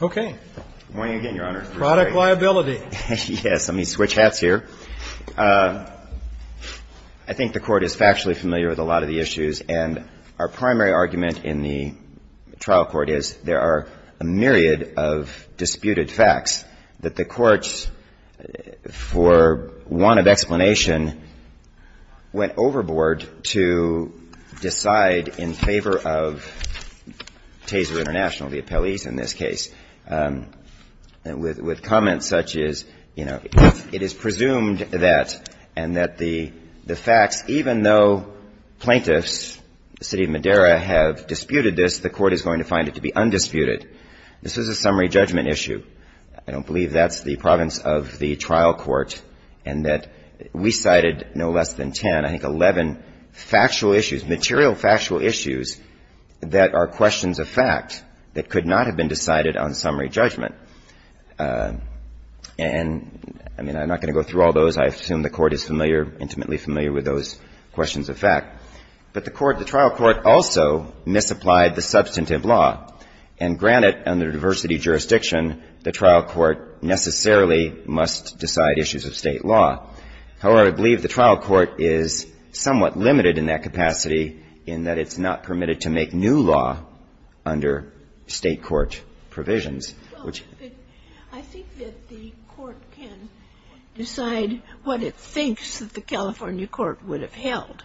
Okay. Product liability. Yes, let me switch hats here. I think the court is factually familiar with a lot of the issues, and our primary argument in the trial court is there are a myriad of disputed facts that the courts, for want of explanation, went overboard to decide in favor of Taser Int'l, the appellees, in this case. With comments such as, you know, it is presumed that and that the facts, even though plaintiffs, the city of Madera, have disputed this, the court is going to find it to be undisputed. This was a summary judgment issue. I don't believe that's the province of the trial court and that we cited no less than 10, I think 11 factual issues, material factual issues that are questions of fact that could not have been decided on summary judgment. And, I mean, I'm not going to go through all those. I assume the court is familiar, intimately familiar with those questions of fact. But the court, the trial court also misapplied the substantive law. And granted, under diversity jurisdiction, the trial court necessarily must decide issues of State law. However, I believe the trial court is somewhat limited in that capacity in that it's not permitted to make new law under State court provisions, which ---- I think that the court can decide what it thinks that the California court would have held.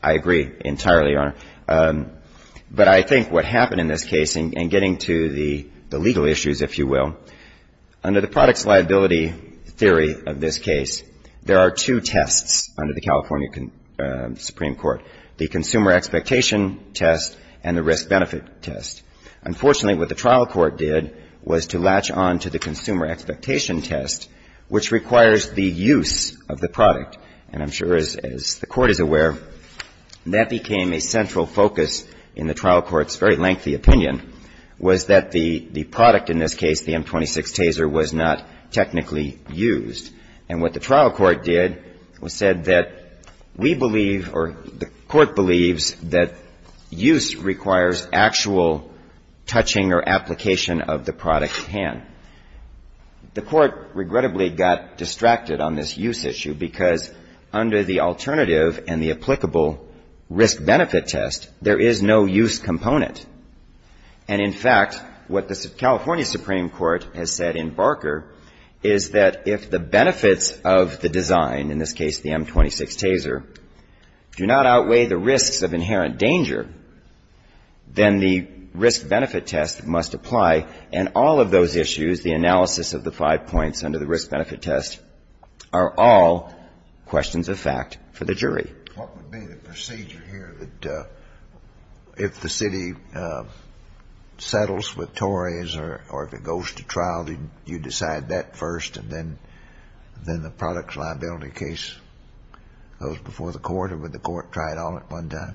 I agree entirely, Your Honor. But I think what happened in this case, and getting to the legal issues, if you will, under the products liability theory of this case, there are two tests under the California Supreme Court, the consumer expectation test and the risk-benefit test. Unfortunately, what the trial court did was to latch on to the consumer expectation test, which requires the use of the product. And I'm sure, as the Court is aware, that became a central focus in the trial court's very lengthy opinion, was that the product in this case, the M-26 taser, was not technically used. And what the trial court did was said that we believe or the court believes that use requires actual touching or application of the product at hand. The court regrettably got distracted on this use issue because under the alternative and the applicable risk-benefit test, there is no use component. And in fact, what the California Supreme Court has said in Barker is that if the benefits of the design, in this case the M-26 taser, do not outweigh the risks of inherent danger, then the risk-benefit test must apply. And all of those issues, the analysis of the five points under the risk-benefit test, are all questions of fact for the jury. What would be the procedure here that if the city settles with Tories or if it goes to trial, you decide that first, and then the product liability case goes before the court, or would the court try it all at one time?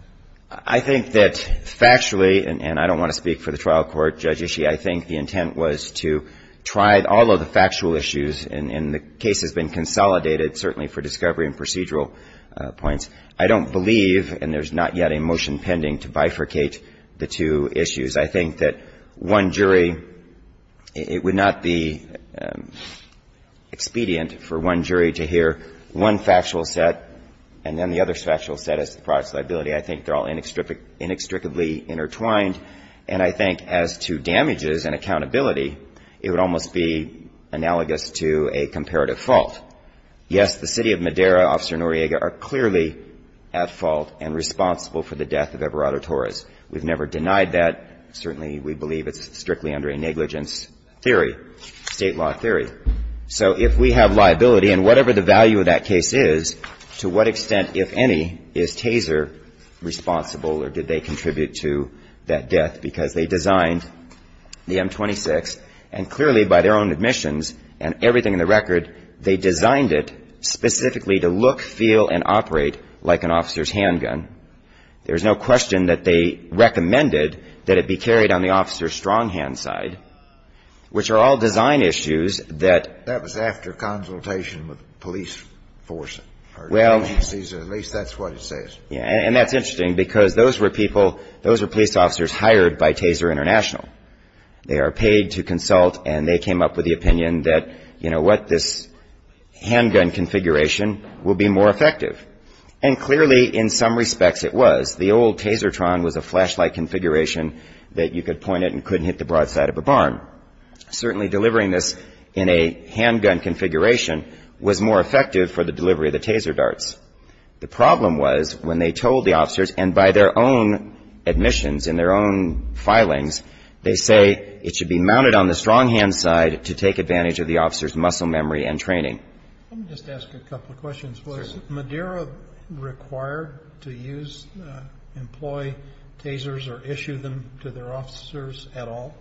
I think that factually, and I don't want to speak for the trial court, Judge Ishii, I think the intent was to try all of the factual issues, and the case has been consolidated, certainly for discovery and procedural points. I don't believe, and there's not yet a motion pending, to bifurcate the two issues. I think that one jury, it would not be expedient for one jury to hear one factual set and then the other factual set as the product liability. I think they're all inextricably intertwined, and I think as to damages and accountability, it would almost be analogous to a comparative fault. Yes, the city of Madera, Officer Noriega, are clearly at fault and responsible for the death of Everardo Torres. We've never denied that. Certainly, we believe it's strictly under a negligence theory, State law theory. So if we have liability, and whatever the value of that case is, to what extent, if any, is Taser responsible or did they contribute to that death, because they designed the M26, and clearly by their own admissions and everything in the record, they designed it specifically to look, feel, and operate like an officer's handgun. There's no question that they recommended that it be carried on the officer's stronghand side, which are all design issues that ---- That was after consultation with the police force. Well ---- At least that's what it says. And that's interesting, because those were people, those were police officers hired by Taser International. They are paid to consult, and they came up with the opinion that, you know what, this handgun configuration will be more effective. And clearly, in some respects, it was. The old Tasertron was a flashlight configuration that you could point at and couldn't hit the broad side of a barn. Certainly, delivering this in a handgun configuration was more effective for the delivery of the Taser darts. The problem was, when they told the officers, and by their own admissions and their own training. Let me just ask a couple of questions. Sure. Was Madeira required to use, employ Tasers or issue them to their officers at all?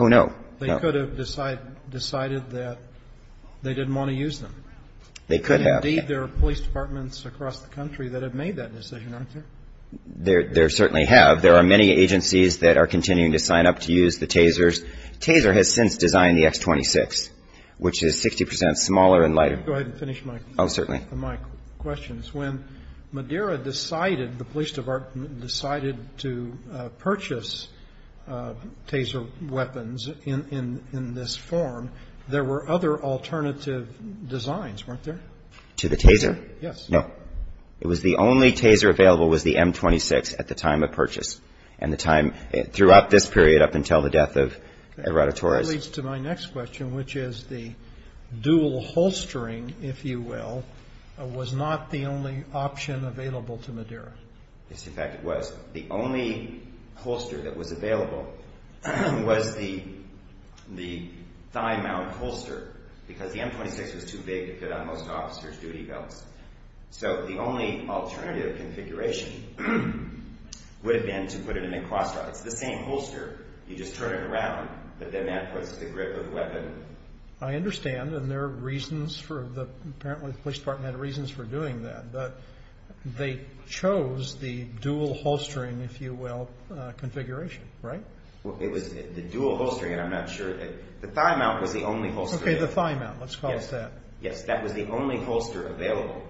Oh, no. They could have decided that they didn't want to use them. They could have. Indeed, there are police departments across the country that have made that decision, aren't there? There certainly have. There are many agencies that are continuing to sign up to use the Tasers. Taser has since designed the X26, which is 60 percent smaller and lighter. Let me go ahead and finish my questions. Oh, certainly. When Madeira decided, the police department decided to purchase Taser weapons in this form, there were other alternative designs, weren't there? To the Taser? Yes. No. It was the only Taser available was the M26 at the time of purchase. And the time throughout this period up until the death of Herodotus. That leads to my next question, which is the dual holstering, if you will, was not the only option available to Madeira. Yes, in fact, it was. The only holster that was available was the thigh mount holster, because the M26 was too big to fit on most officers' duty belts. So the only alternative configuration would have been to put it in a cross-strap. It's the same holster. You just turn it around, but then that puts the grip of the weapon. I understand, and there are reasons for the—apparently the police department had reasons for doing that. But they chose the dual holstering, if you will, configuration, right? It was the dual holstering, and I'm not sure—the thigh mount was the only holster. Okay, the thigh mount. Let's call it that. Yes, that was the only holster available.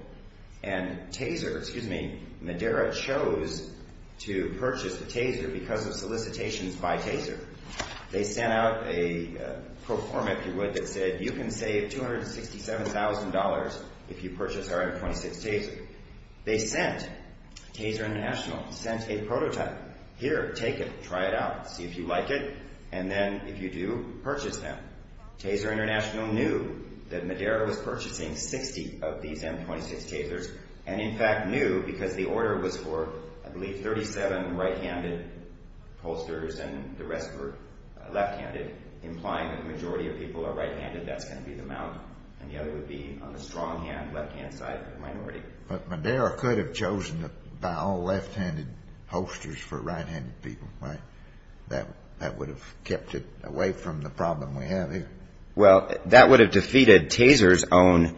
And Taser—excuse me, Madeira chose to purchase Taser because of solicitations by Taser. They sent out a pro forma, if you would, that said, you can save $267,000 if you purchase our M26 Taser. They sent—Taser International sent a prototype. Here, take it. Try it out. See if you like it. And then, if you do, purchase them. Taser International knew that Madeira was purchasing 60 of these M26 Tasers and, in fact, knew because the order was for, I believe, 37 right-handed holsters and the rest were left-handed, implying that the majority of people are right-handed. That's going to be the mount, and the other would be on the strong hand, left-hand side minority. But Madeira could have chosen to buy all left-handed holsters for right-handed people, right? That would have kept it away from the problem we have here. Well, that would have defeated Taser's own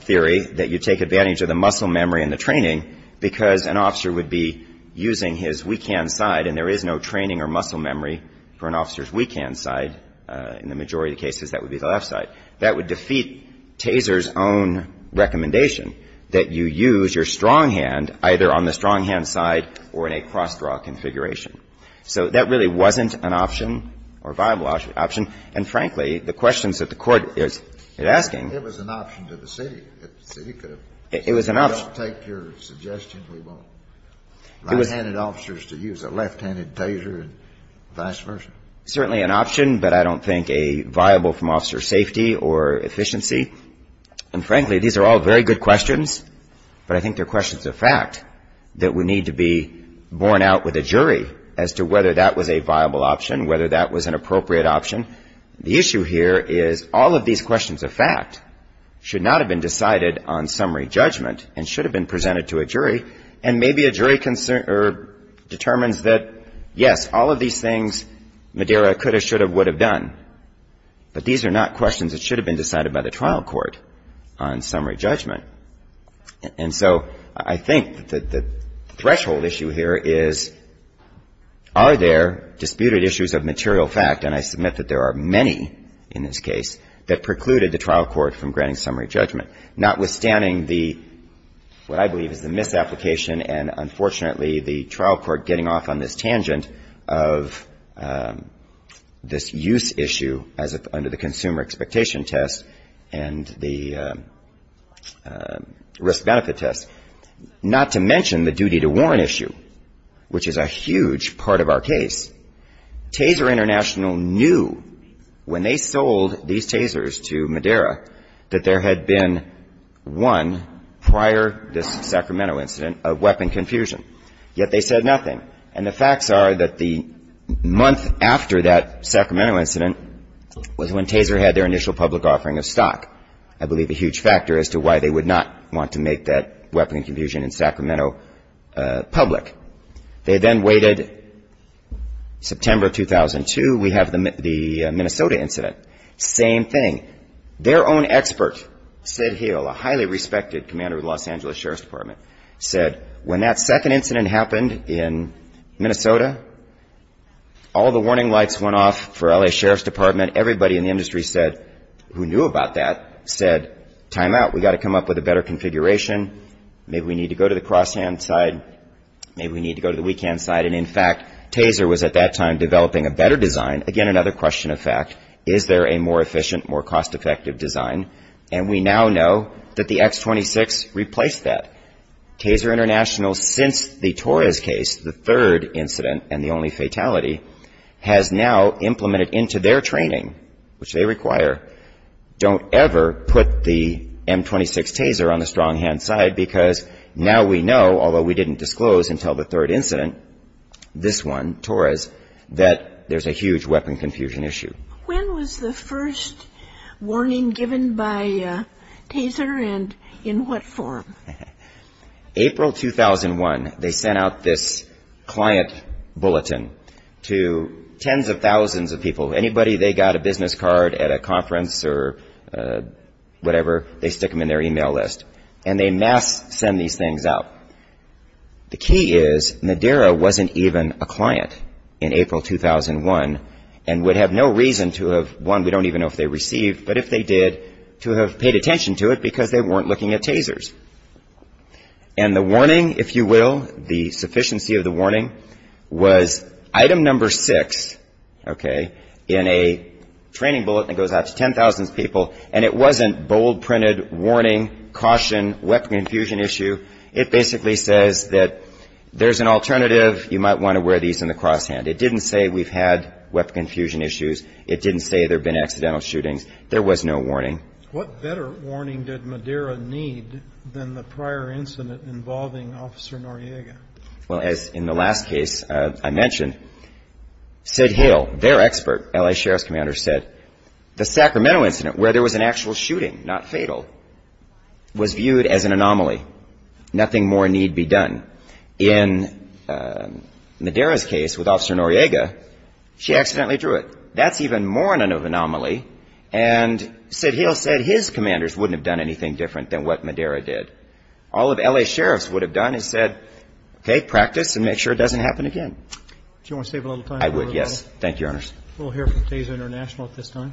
theory that you take advantage of the muscle memory and the training because an officer would be using his weak hand side and there is no training or muscle memory for an officer's weak hand side. In the majority of cases, that would be the left side. That would defeat Taser's own recommendation that you use your strong hand either on the strong hand side or in a cross-draw configuration. So that really wasn't an option or viable option. And, frankly, the questions that the Court is asking. It was an option to the city. The city could have said, we don't take your suggestion. We want right-handed officers to use a left-handed Taser and vice versa. Certainly an option, but I don't think a viable from officer safety or efficiency. And, frankly, these are all very good questions, but I think they're questions of fact that would need to be borne out with a jury as to whether that was a viable option, whether that was an appropriate option. The issue here is all of these questions of fact should not have been decided on summary judgment and should have been presented to a jury. And maybe a jury determines that, yes, all of these things, Madeira could have, should have, would have done. But these are not questions that should have been decided by the trial court on summary judgment. And so I think that the threshold issue here is, are there disputed issues of material fact, and I submit that there are many in this case, that precluded the trial court from granting summary judgment, notwithstanding the, what I believe is the misapplication and, unfortunately, the trial court getting off on this tangent of this use issue as under the consumer expectation test and the risk benefit test, not to mention the duty to warrant issue, which is a huge part of our case. Taser International knew when they sold these tasers to Madeira that there had been, one, prior this Sacramento incident, a weapon confusion. Yet they said nothing. And the facts are that the month after that Sacramento incident was when Taser had their initial public offering of stock, I believe a huge factor as to why they would not want to make that weapon confusion in Sacramento public. They then waited September 2002. We have the Minnesota incident. Same thing. Their own expert, Sid Hill, a highly respected commander of the Los Angeles Sheriff's Department, said when that second incident happened in Minnesota, all the warning lights went off for L.A. Sheriff's Department. Everybody in the industry said, who knew about that, said, time out, we've got to come up with a better configuration. Maybe we need to go to the cross-hand side. Maybe we need to go to the weak-hand side. And, in fact, Taser was at that time developing a better design. Again, another question of fact. Is there a more efficient, more cost-effective design? And we now know that the X-26 replaced that. Taser International, since the Torres case, the third incident and the only fatality, has now implemented into their training, which they require, don't ever put the M-26 Taser on the strong-hand side because now we know, although we didn't disclose until the third incident, this one, Torres, that there's a huge weapon confusion issue. When was the first warning given by Taser and in what form? April 2001, they sent out this client bulletin to tens of thousands of people. Anybody they got a business card at a conference or whatever, they stick them in their e-mail list. And they mass send these things out. The key is Madera wasn't even a client in April 2001 and would have no reason to have, one, we don't even know if they received, but if they did, to have paid attention to it because they weren't looking at Tasers. And the warning, if you will, the sufficiency of the warning, was item number six, okay, in a training bulletin that goes out to tens of thousands of people, and it wasn't bold-printed warning, caution, weapon confusion issue. It basically says that there's an alternative, you might want to wear these in the crosshand. It didn't say we've had weapon confusion issues. It didn't say there have been accidental shootings. There was no warning. What better warning did Madera need than the prior incident involving Officer Noriega? Well, as in the last case I mentioned, Sid Hill, their expert, L.A. Sheriff's commander, said, the Sacramento incident where there was an actual shooting, not fatal, was viewed as an anomaly. Nothing more need be done. In Madera's case with Officer Noriega, she accidentally drew it. That's even more than an anomaly, and Sid Hill said his commanders wouldn't have done anything different than what Madera did. All of L.A. Sheriffs would have done is said, okay, practice and make sure it doesn't happen again. Do you want to save a little time? I would, yes. Thank you, Your Honors. We'll hear from Taser International at this time.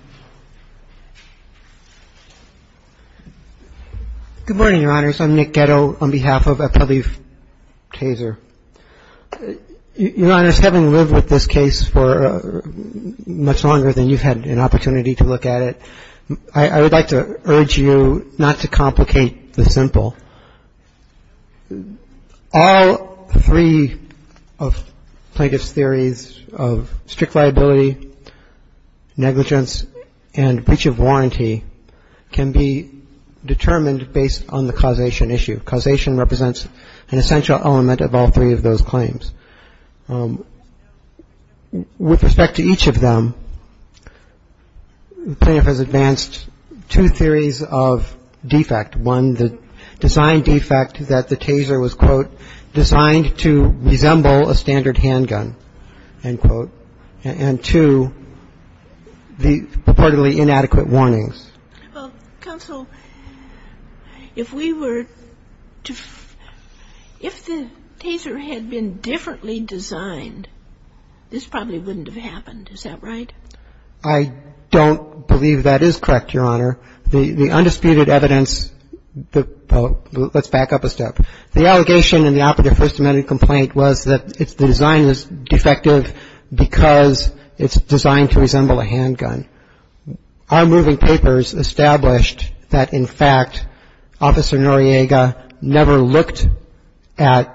Good morning, Your Honors. I'm Nick Ghetto on behalf of Appellee Taser. Your Honors, having lived with this case for much longer than you've had an opportunity to look at it, I would like to urge you not to complicate the simple. All three of Plaintiff's theories of strict liability, negligence, and breach of warranty can be determined based on the causation issue. Causation represents an essential element of all three of those claims. With respect to each of them, Plaintiff has advanced two theories of defect, one, the design defect that the Taser was, quote, designed to resemble a standard handgun, end quote, and two, the purportedly inadequate warnings. Counsel, if we were to ‑‑ if the Taser had been differently designed, this probably wouldn't have happened. Is that right? I don't believe that is correct, Your Honor. The undisputed evidence ‑‑ let's back up a step. The allegation in the operative first amendment complaint was that the design is defective because it's designed to resemble a handgun. Our moving papers established that, in fact, Officer Noriega never looked at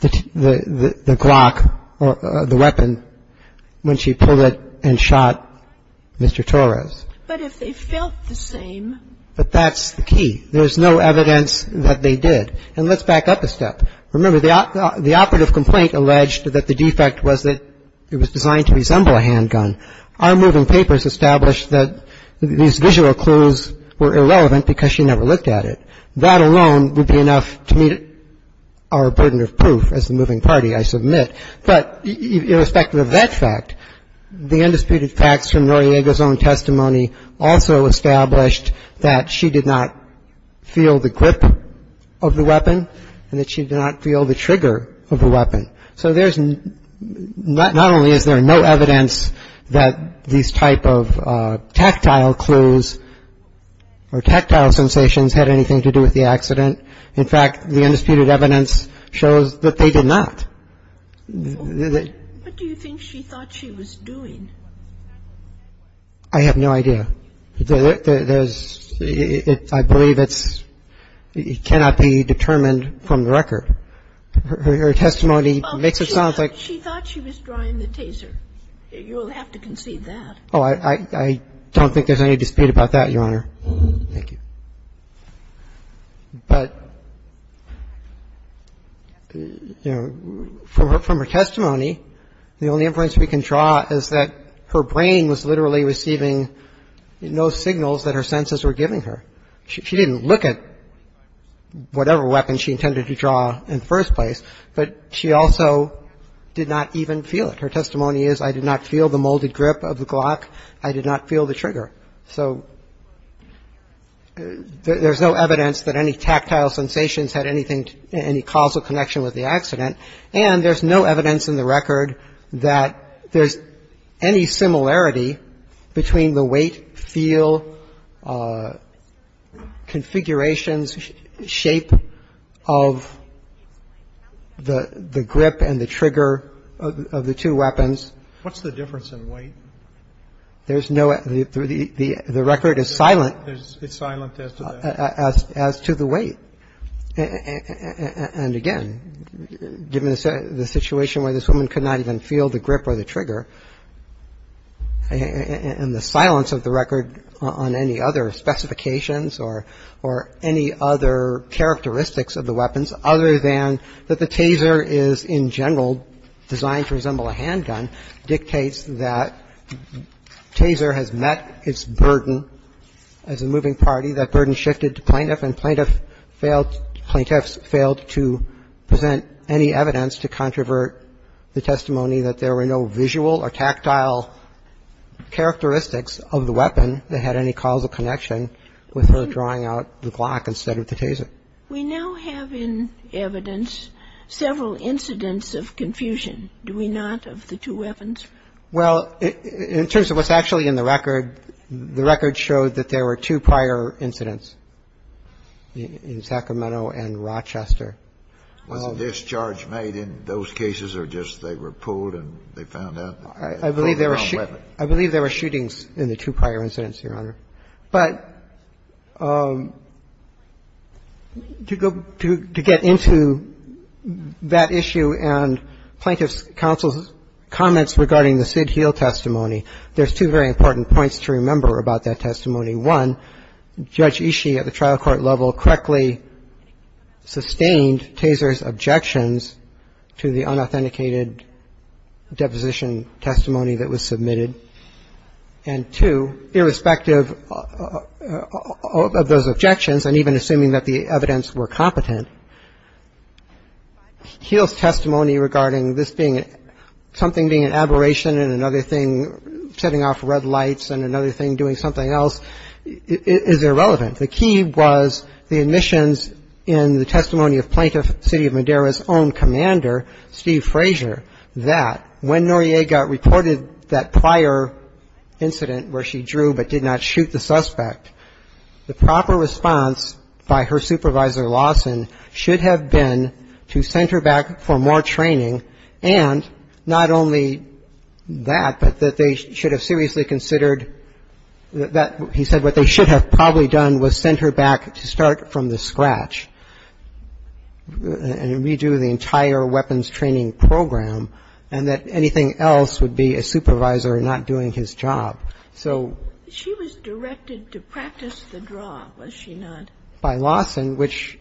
the Glock, the weapon, when she pulled it and shot Mr. Torres. But if they felt the same ‑‑ But that's the key. There's no evidence that they did. And let's back up a step. Remember, the operative complaint alleged that the defect was that it was designed to resemble a handgun. Our moving papers established that these visual clues were irrelevant because she never looked at it. That alone would be enough to meet our burden of proof as the moving party, I submit. But irrespective of that fact, the undisputed facts from Noriega's own testimony also established that she did not feel the grip of the weapon and that she did not feel the trigger of the weapon. So there's ‑‑ not only is there no evidence that these type of tactile clues or tactile sensations had anything to do with the accident, but there's no evidence that they did not. In fact, the undisputed evidence shows that they did not. What do you think she thought she was doing? I have no idea. There's ‑‑ I believe it's ‑‑ it cannot be determined from the record. Her testimony makes it sound like ‑‑ Well, she thought she was drawing the taser. You'll have to concede that. Oh, I don't think there's any dispute about that, Your Honor. Thank you. But, you know, from her testimony, the only inference we can draw is that her brain was literally receiving no signals that her senses were giving her. She didn't look at whatever weapon she intended to draw in the first place, but she also did not even feel it. Her testimony is, I did not feel the molded grip of the Glock. I did not feel the trigger. So there's no evidence that any tactile sensations had anything, any causal connection with the accident, and there's no evidence in the record that there's any similarity between the weight, feel, configurations, shape of the grip and the trigger of the two weapons. What's the difference in weight? There's no ‑‑ the record is silent. It's silent as to that. As to the weight. And, again, given the situation where this woman could not even feel the grip or the trigger and the silence of the record on any other specifications or any other characteristics of the weapons other than that the Taser is in general designed to resemble a handgun dictates that Taser has met its burden as a moving party. That burden shifted to plaintiff, and plaintiffs failed to present any evidence to controvert the testimony that there were no visual or tactile characteristics of the weapon that had any causal connection with her drawing out the Glock instead of the Taser. We now have in evidence several incidents of confusion, do we not, of the two weapons? Well, in terms of what's actually in the record, the record showed that there were two prior incidents in Sacramento and Rochester. Was the discharge made in those cases or just they were pulled and they found out they had the wrong weapon? I believe there were shootings in the two prior incidents, Your Honor. But to get into that issue and plaintiff's counsel's comments regarding the Sid Heal testimony, there's two very important points to remember about that testimony. One, Judge Ishii at the trial court level correctly sustained Taser's objections to the unauthenticated deposition testimony that was submitted. And two, irrespective of those objections and even assuming that the evidence were competent, Heal's testimony regarding this being something being an aberration and another thing setting off red lights and another thing doing something else is irrelevant. The key was the admissions in the testimony of Plaintiff, City of Madera's own commander, Steve Frazier, that when Noriega reported that prior incident where she drew but did not shoot the suspect, the proper response by her supervisor Lawson should have been to send her back for more training and not only that, but that they should have seriously considered that, he said, what they should have probably done was send her back to start from the scratch and redo the entire weapons training program and that anything else would be a supervisor not doing his job. So by Lawson, which,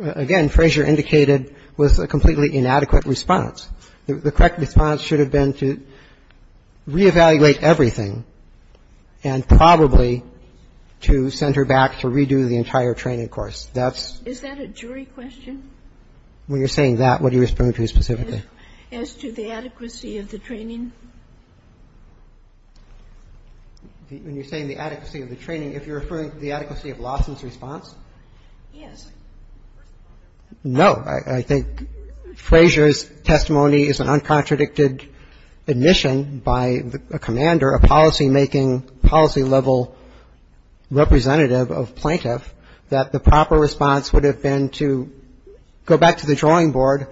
again, Frazier indicated was a completely inadequate response. The correct response should have been to re-evaluate everything and probably to send her back to redo the entire training course. That's the case. Sotomayor Is that a jury question? Bursch When you're saying that, what are you referring to specifically? Sotomayor As to the adequacy of the training? Bursch When you're saying the adequacy of the training, if you're referring to the adequacy of Lawson's response? Sotomayor Yes. Bursch No. I think Frazier's testimony is an uncontradicted admission by a commander, a policy-making, policy-level representative of plaintiff, that the proper response would have been to go back to the drawing board,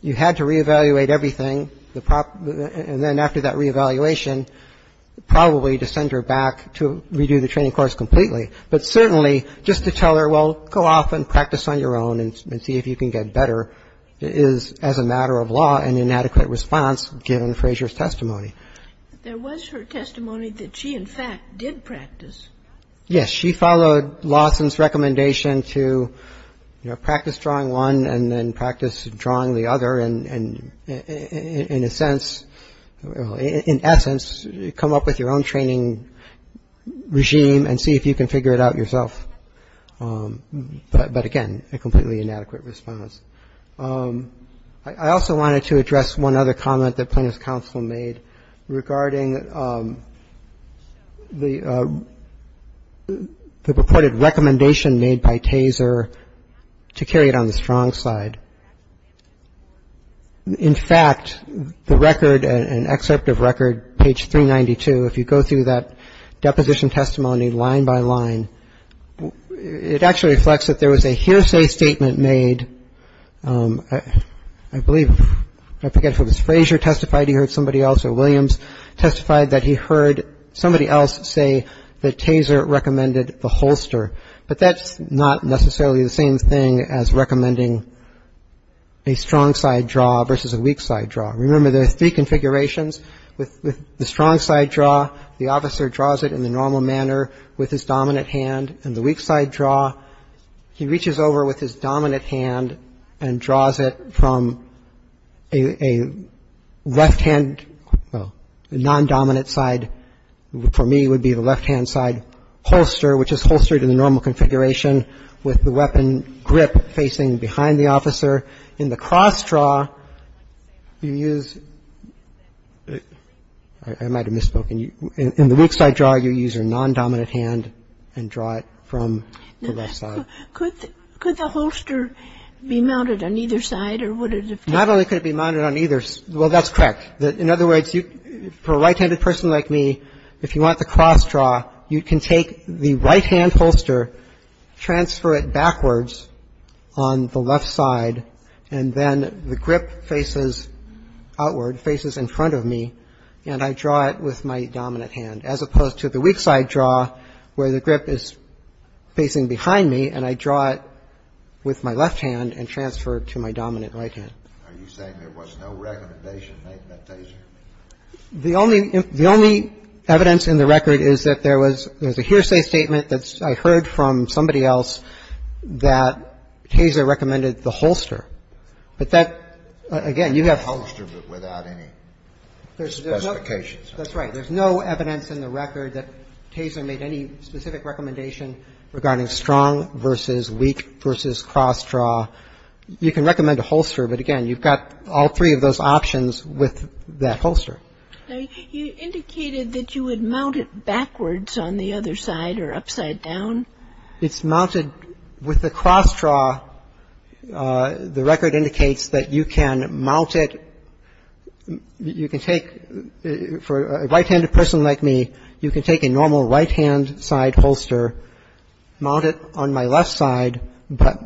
you had to re-evaluate everything, and then after that re-evaluation, probably to send her back to redo the training course completely. But certainly, just to tell her, well, go off and practice on your own and see if you can get better is, as a matter of law, an inadequate response given Frazier's testimony. Kagan There was her testimony that she, in fact, did practice. Bursch Yes. She followed Lawson's recommendation to, you know, practice drawing one and then practice drawing the other and in a sense, in essence, come up with your own training regime and see if you can figure it out yourself. But again, a completely inadequate response. I also wanted to address one other comment that plaintiff's counsel made regarding the purported recommendation made by Taser to carry it on the strong side. In fact, the record, an excerpt of record, page 392, if you go through that deposition testimony line by line, it actually reflects that there was a hearsay statement made, I believe, I forget if it was Frazier testified, he heard somebody else, or Williams testified that he heard somebody else say that Taser recommended the holster. But that's not necessarily the same thing as recommending a strong side draw versus a weak side draw. Remember, there are three configurations. With the strong side draw, the officer draws it in the normal manner with his dominant hand. In the weak side draw, he reaches over with his dominant hand and draws it from a left-hand, the non-dominant side for me would be the left-hand side holster, which is holstered in the normal configuration with the weapon grip facing behind the officer. In the cross draw, you use, I might have misspoken. In the weak side draw, you use your non-dominant hand and draw it from the left side. Kagan. Could the holster be mounted on either side or would it have to be? Not only could it be mounted on either. Well, that's correct. In other words, for a right-handed person like me, if you want the cross draw, you can take the right-hand holster, transfer it backwards on the left side, and then the grip faces outward, faces in front of me, and I draw it with my dominant hand, as opposed to the weak side draw where the grip is facing behind me, and I draw it with my left hand and transfer it to my dominant right hand. Are you saying there was no recommendation made by Taser? The only evidence in the record is that there was a hearsay statement that I heard from somebody else that Taser recommended the holster. But that, again, you have to. A holster but without any specifications. That's right. There's no evidence in the record that Taser made any specific recommendation regarding strong versus weak versus cross draw. You can recommend a holster, but, again, you've got all three of those options with that holster. Now, you indicated that you would mount it backwards on the other side or upside down. It's mounted with a cross draw. The record indicates that you can mount it. You can take, for a right-handed person like me, you can take a normal right-hand side holster, mount it on my left side, but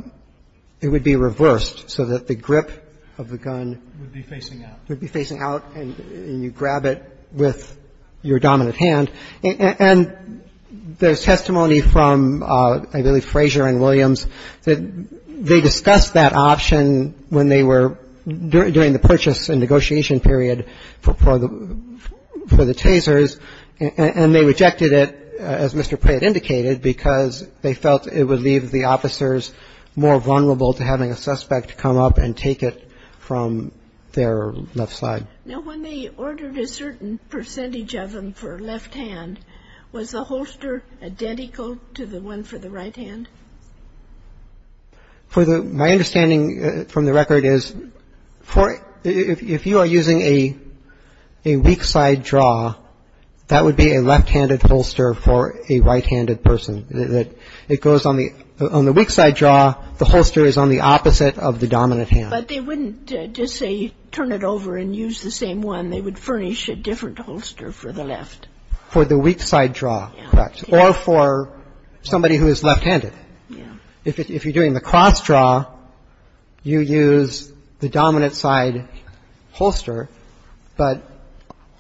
it would be reversed so that the grip of the gun would be facing out. It would be facing out, and you grab it with your dominant hand. And there's testimony from, I believe, Frazier and Williams that they discussed that option when they were doing the purchase and negotiation period for the Tasers, and they rejected it, as Mr. Pratt indicated, because they felt it would leave the officers more vulnerable to having a suspect come up and take it from their left side. Now, when they ordered a certain percentage of them for left hand, was the holster identical to the one for the right hand? For the – my understanding from the record is for – if you are using a weak side draw, that would be a left-handed holster for a right-handed person. It goes on the – on the weak side draw, the holster is on the opposite of the dominant hand. But they wouldn't just say turn it over and use the same one. They would furnish a different holster for the left. For the weak side draw, correct. Or for somebody who is left-handed. If you're doing the cross draw, you use the dominant side holster, but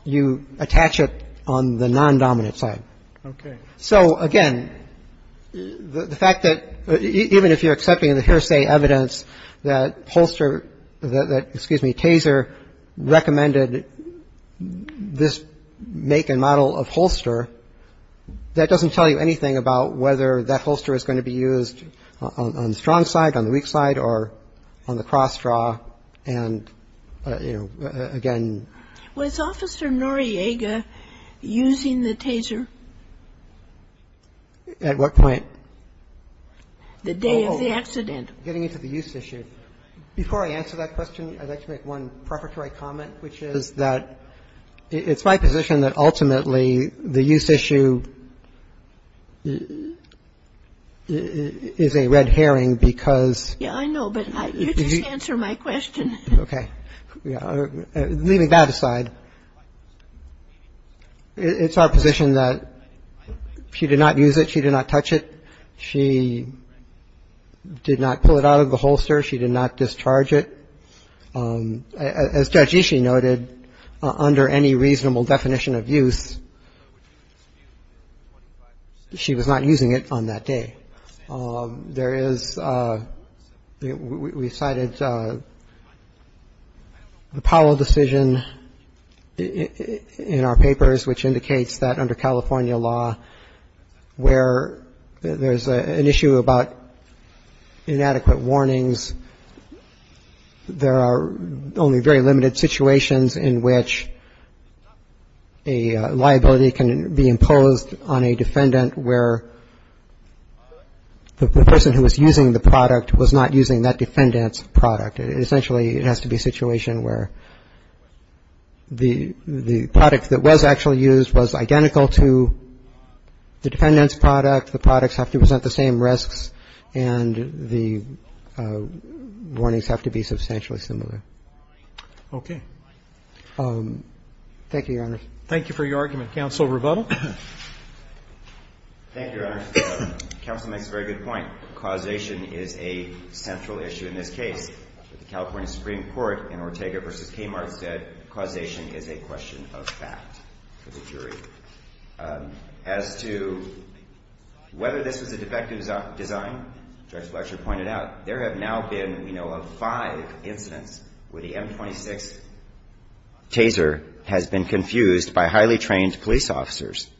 you attach it on the non-dominant side. Okay. So, again, the fact that – even if you're accepting the hearsay evidence that holster – that, excuse me, Taser recommended this make and model of holster, that doesn't tell you anything about whether that holster is going to be used on the strong side, on the weak side, or on the cross draw and, you know, again. Was Officer Noriega using the Taser? At what point? The day of the accident. Getting into the use issue. Before I answer that question, I'd like to make one preparatory comment, which is that it's my position that ultimately the use issue is a red herring because Yeah, I know, but you just answered my question. Okay. Leaving that aside, it's our position that she did not use it. She did not touch it. She did not pull it out of the holster. She did not discharge it. As Judge Ishii noted, under any reasonable definition of use, she was not using it on that day. There is – we cited the Powell decision in our papers, which indicates that under California law, where there's an issue about inadequate warnings, there are only very limited situations in which a liability can be imposed on a defendant where the person who was using the product was not using that defendant's product. Essentially, it has to be a situation where the product that was actually used was identical to the defendant's product. The products have to present the same risks, and the warnings have to be substantially similar. Thank you, Your Honors. Thank you for your argument. Counsel Rebuttal. Thank you, Your Honors. Counsel makes a very good point. Causation is a central issue in this case. The California Supreme Court in Ortega v. Kmart said causation is a question of fact for the jury. As to whether this is a defective design, Judge Fletcher pointed out, there have now been, we know, five incidents where the M26 taser has been confused by highly trained police officers.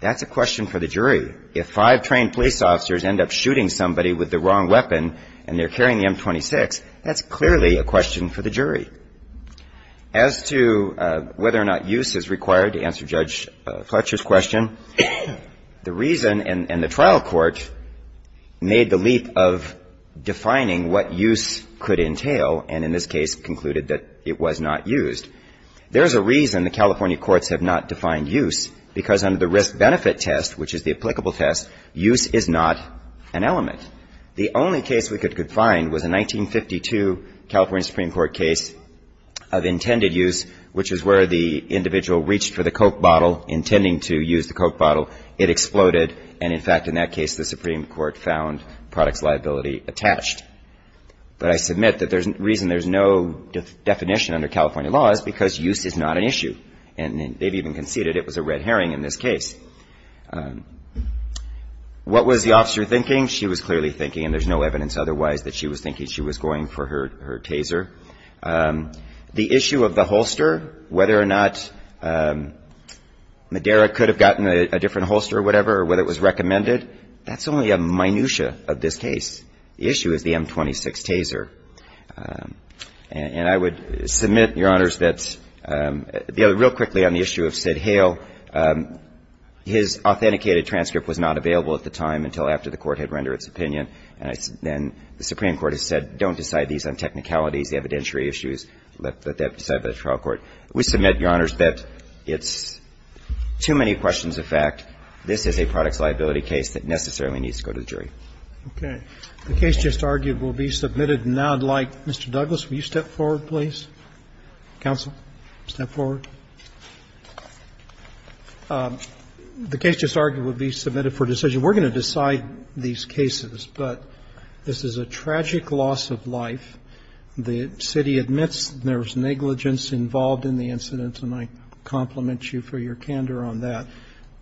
That's a question for the jury. If five trained police officers end up shooting somebody with the wrong weapon and they're carrying the M26, that's clearly a question for the jury. As to whether or not use is required, to answer Judge Fletcher's question, the reason, and the trial court made the leap of defining what use could entail, and in this case concluded that it was not used. There's a reason the California courts have not defined use, because under the risk-benefit test, which is the applicable test, use is not an element. The only case we could find was a 1952 California Supreme Court case of intended use, which is where the individual reached for the Coke bottle, intending to use the Coke bottle. It exploded, and in fact, in that case, the Supreme Court found products liability attached. But I submit that the reason there's no definition under California law is because use is not an issue. And they've even conceded it was a red herring in this case. What was the officer thinking? She was clearly thinking, and there's no evidence otherwise, that she was thinking she was going for her taser. The issue of the holster, whether or not Madera could have gotten a different holster or whatever, or whether it was recommended, that's only a minutia of this case. The issue is the M26 taser. And I would submit, Your Honors, that real quickly on the issue of Sid Hale, his authenticated transcript was not available at the time until after the Court had rendered its opinion. And the Supreme Court has said, don't decide these on technicalities, evidentiary issues, let that be decided by the trial court. We submit, Your Honors, that it's too many questions of fact. This is a products liability case that necessarily needs to go to the jury. Okay. The case just argued will be submitted now. I'd like, Mr. Douglas, will you step forward, please? Counsel, step forward. The case just argued will be submitted for decision. We're going to decide these cases, but this is a tragic loss of life. The city admits there was negligence involved in the incident, and I compliment you for your candor on that.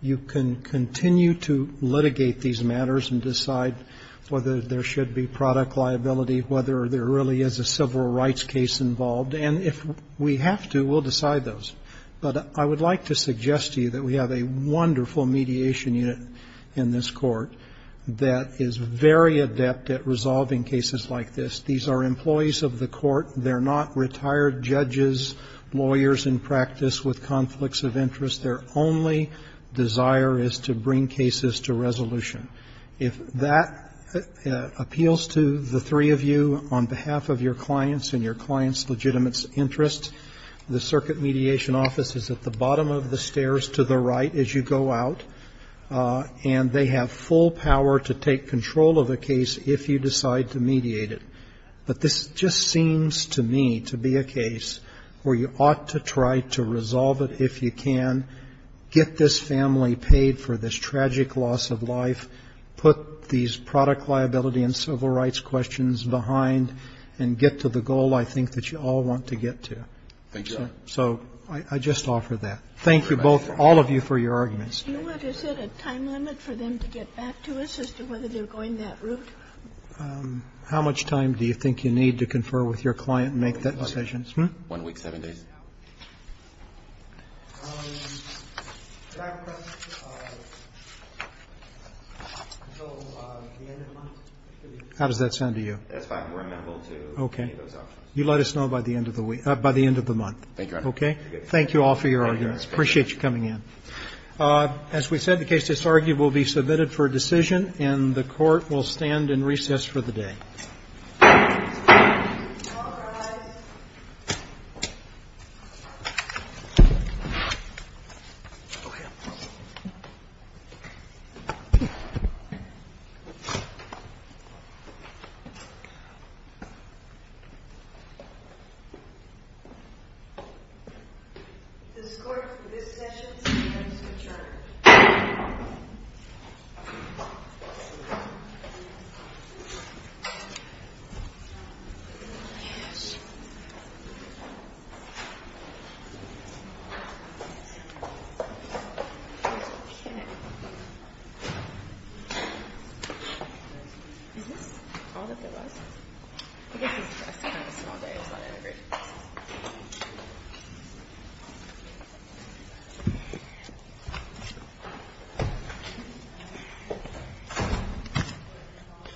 You can continue to litigate these matters and decide whether there should be product liability, whether there really is a civil rights case involved. And if we have to, we'll decide those. But I would like to suggest to you that we have a wonderful mediation unit in this Court that is very adept at resolving cases like this. These are employees of the Court. They're not retired judges, lawyers in practice with conflicts of interest. Their only desire is to bring cases to resolution. If that appeals to the three of you on behalf of your clients and your clients' legitimate interests, the circuit mediation office is at the bottom of the stairs to the right as you go out, and they have full power to take control of a case if you decide to mediate it. But this just seems to me to be a case where you ought to try to resolve it if you can, get this family paid for this tragic loss of life, put these product liability and civil rights questions behind, and get to the goal I think that you all want to get to. So I just offer that. Thank you both, all of you, for your arguments. Thank you. Do you have any questions? Let's do it. Is it a time limit for them to get back to us as to whether they're going that route? How much time do you think you need to confer with your client and make that decision? One week, seven days. Do I have a question? Until the end of the month? How does that sound to you? That's fine. We're amenable to any of those options. Okay. You let us know by the end of the month. Thank you, Your Honor. Okay? Thank you all for your arguments. Thank you, Your Honor. Appreciate you coming in. As we said, the case disargued will be submitted for a decision, and the Court will stand in recess for the day. All rise. This Court, for this session, stands adjourned. Thank you.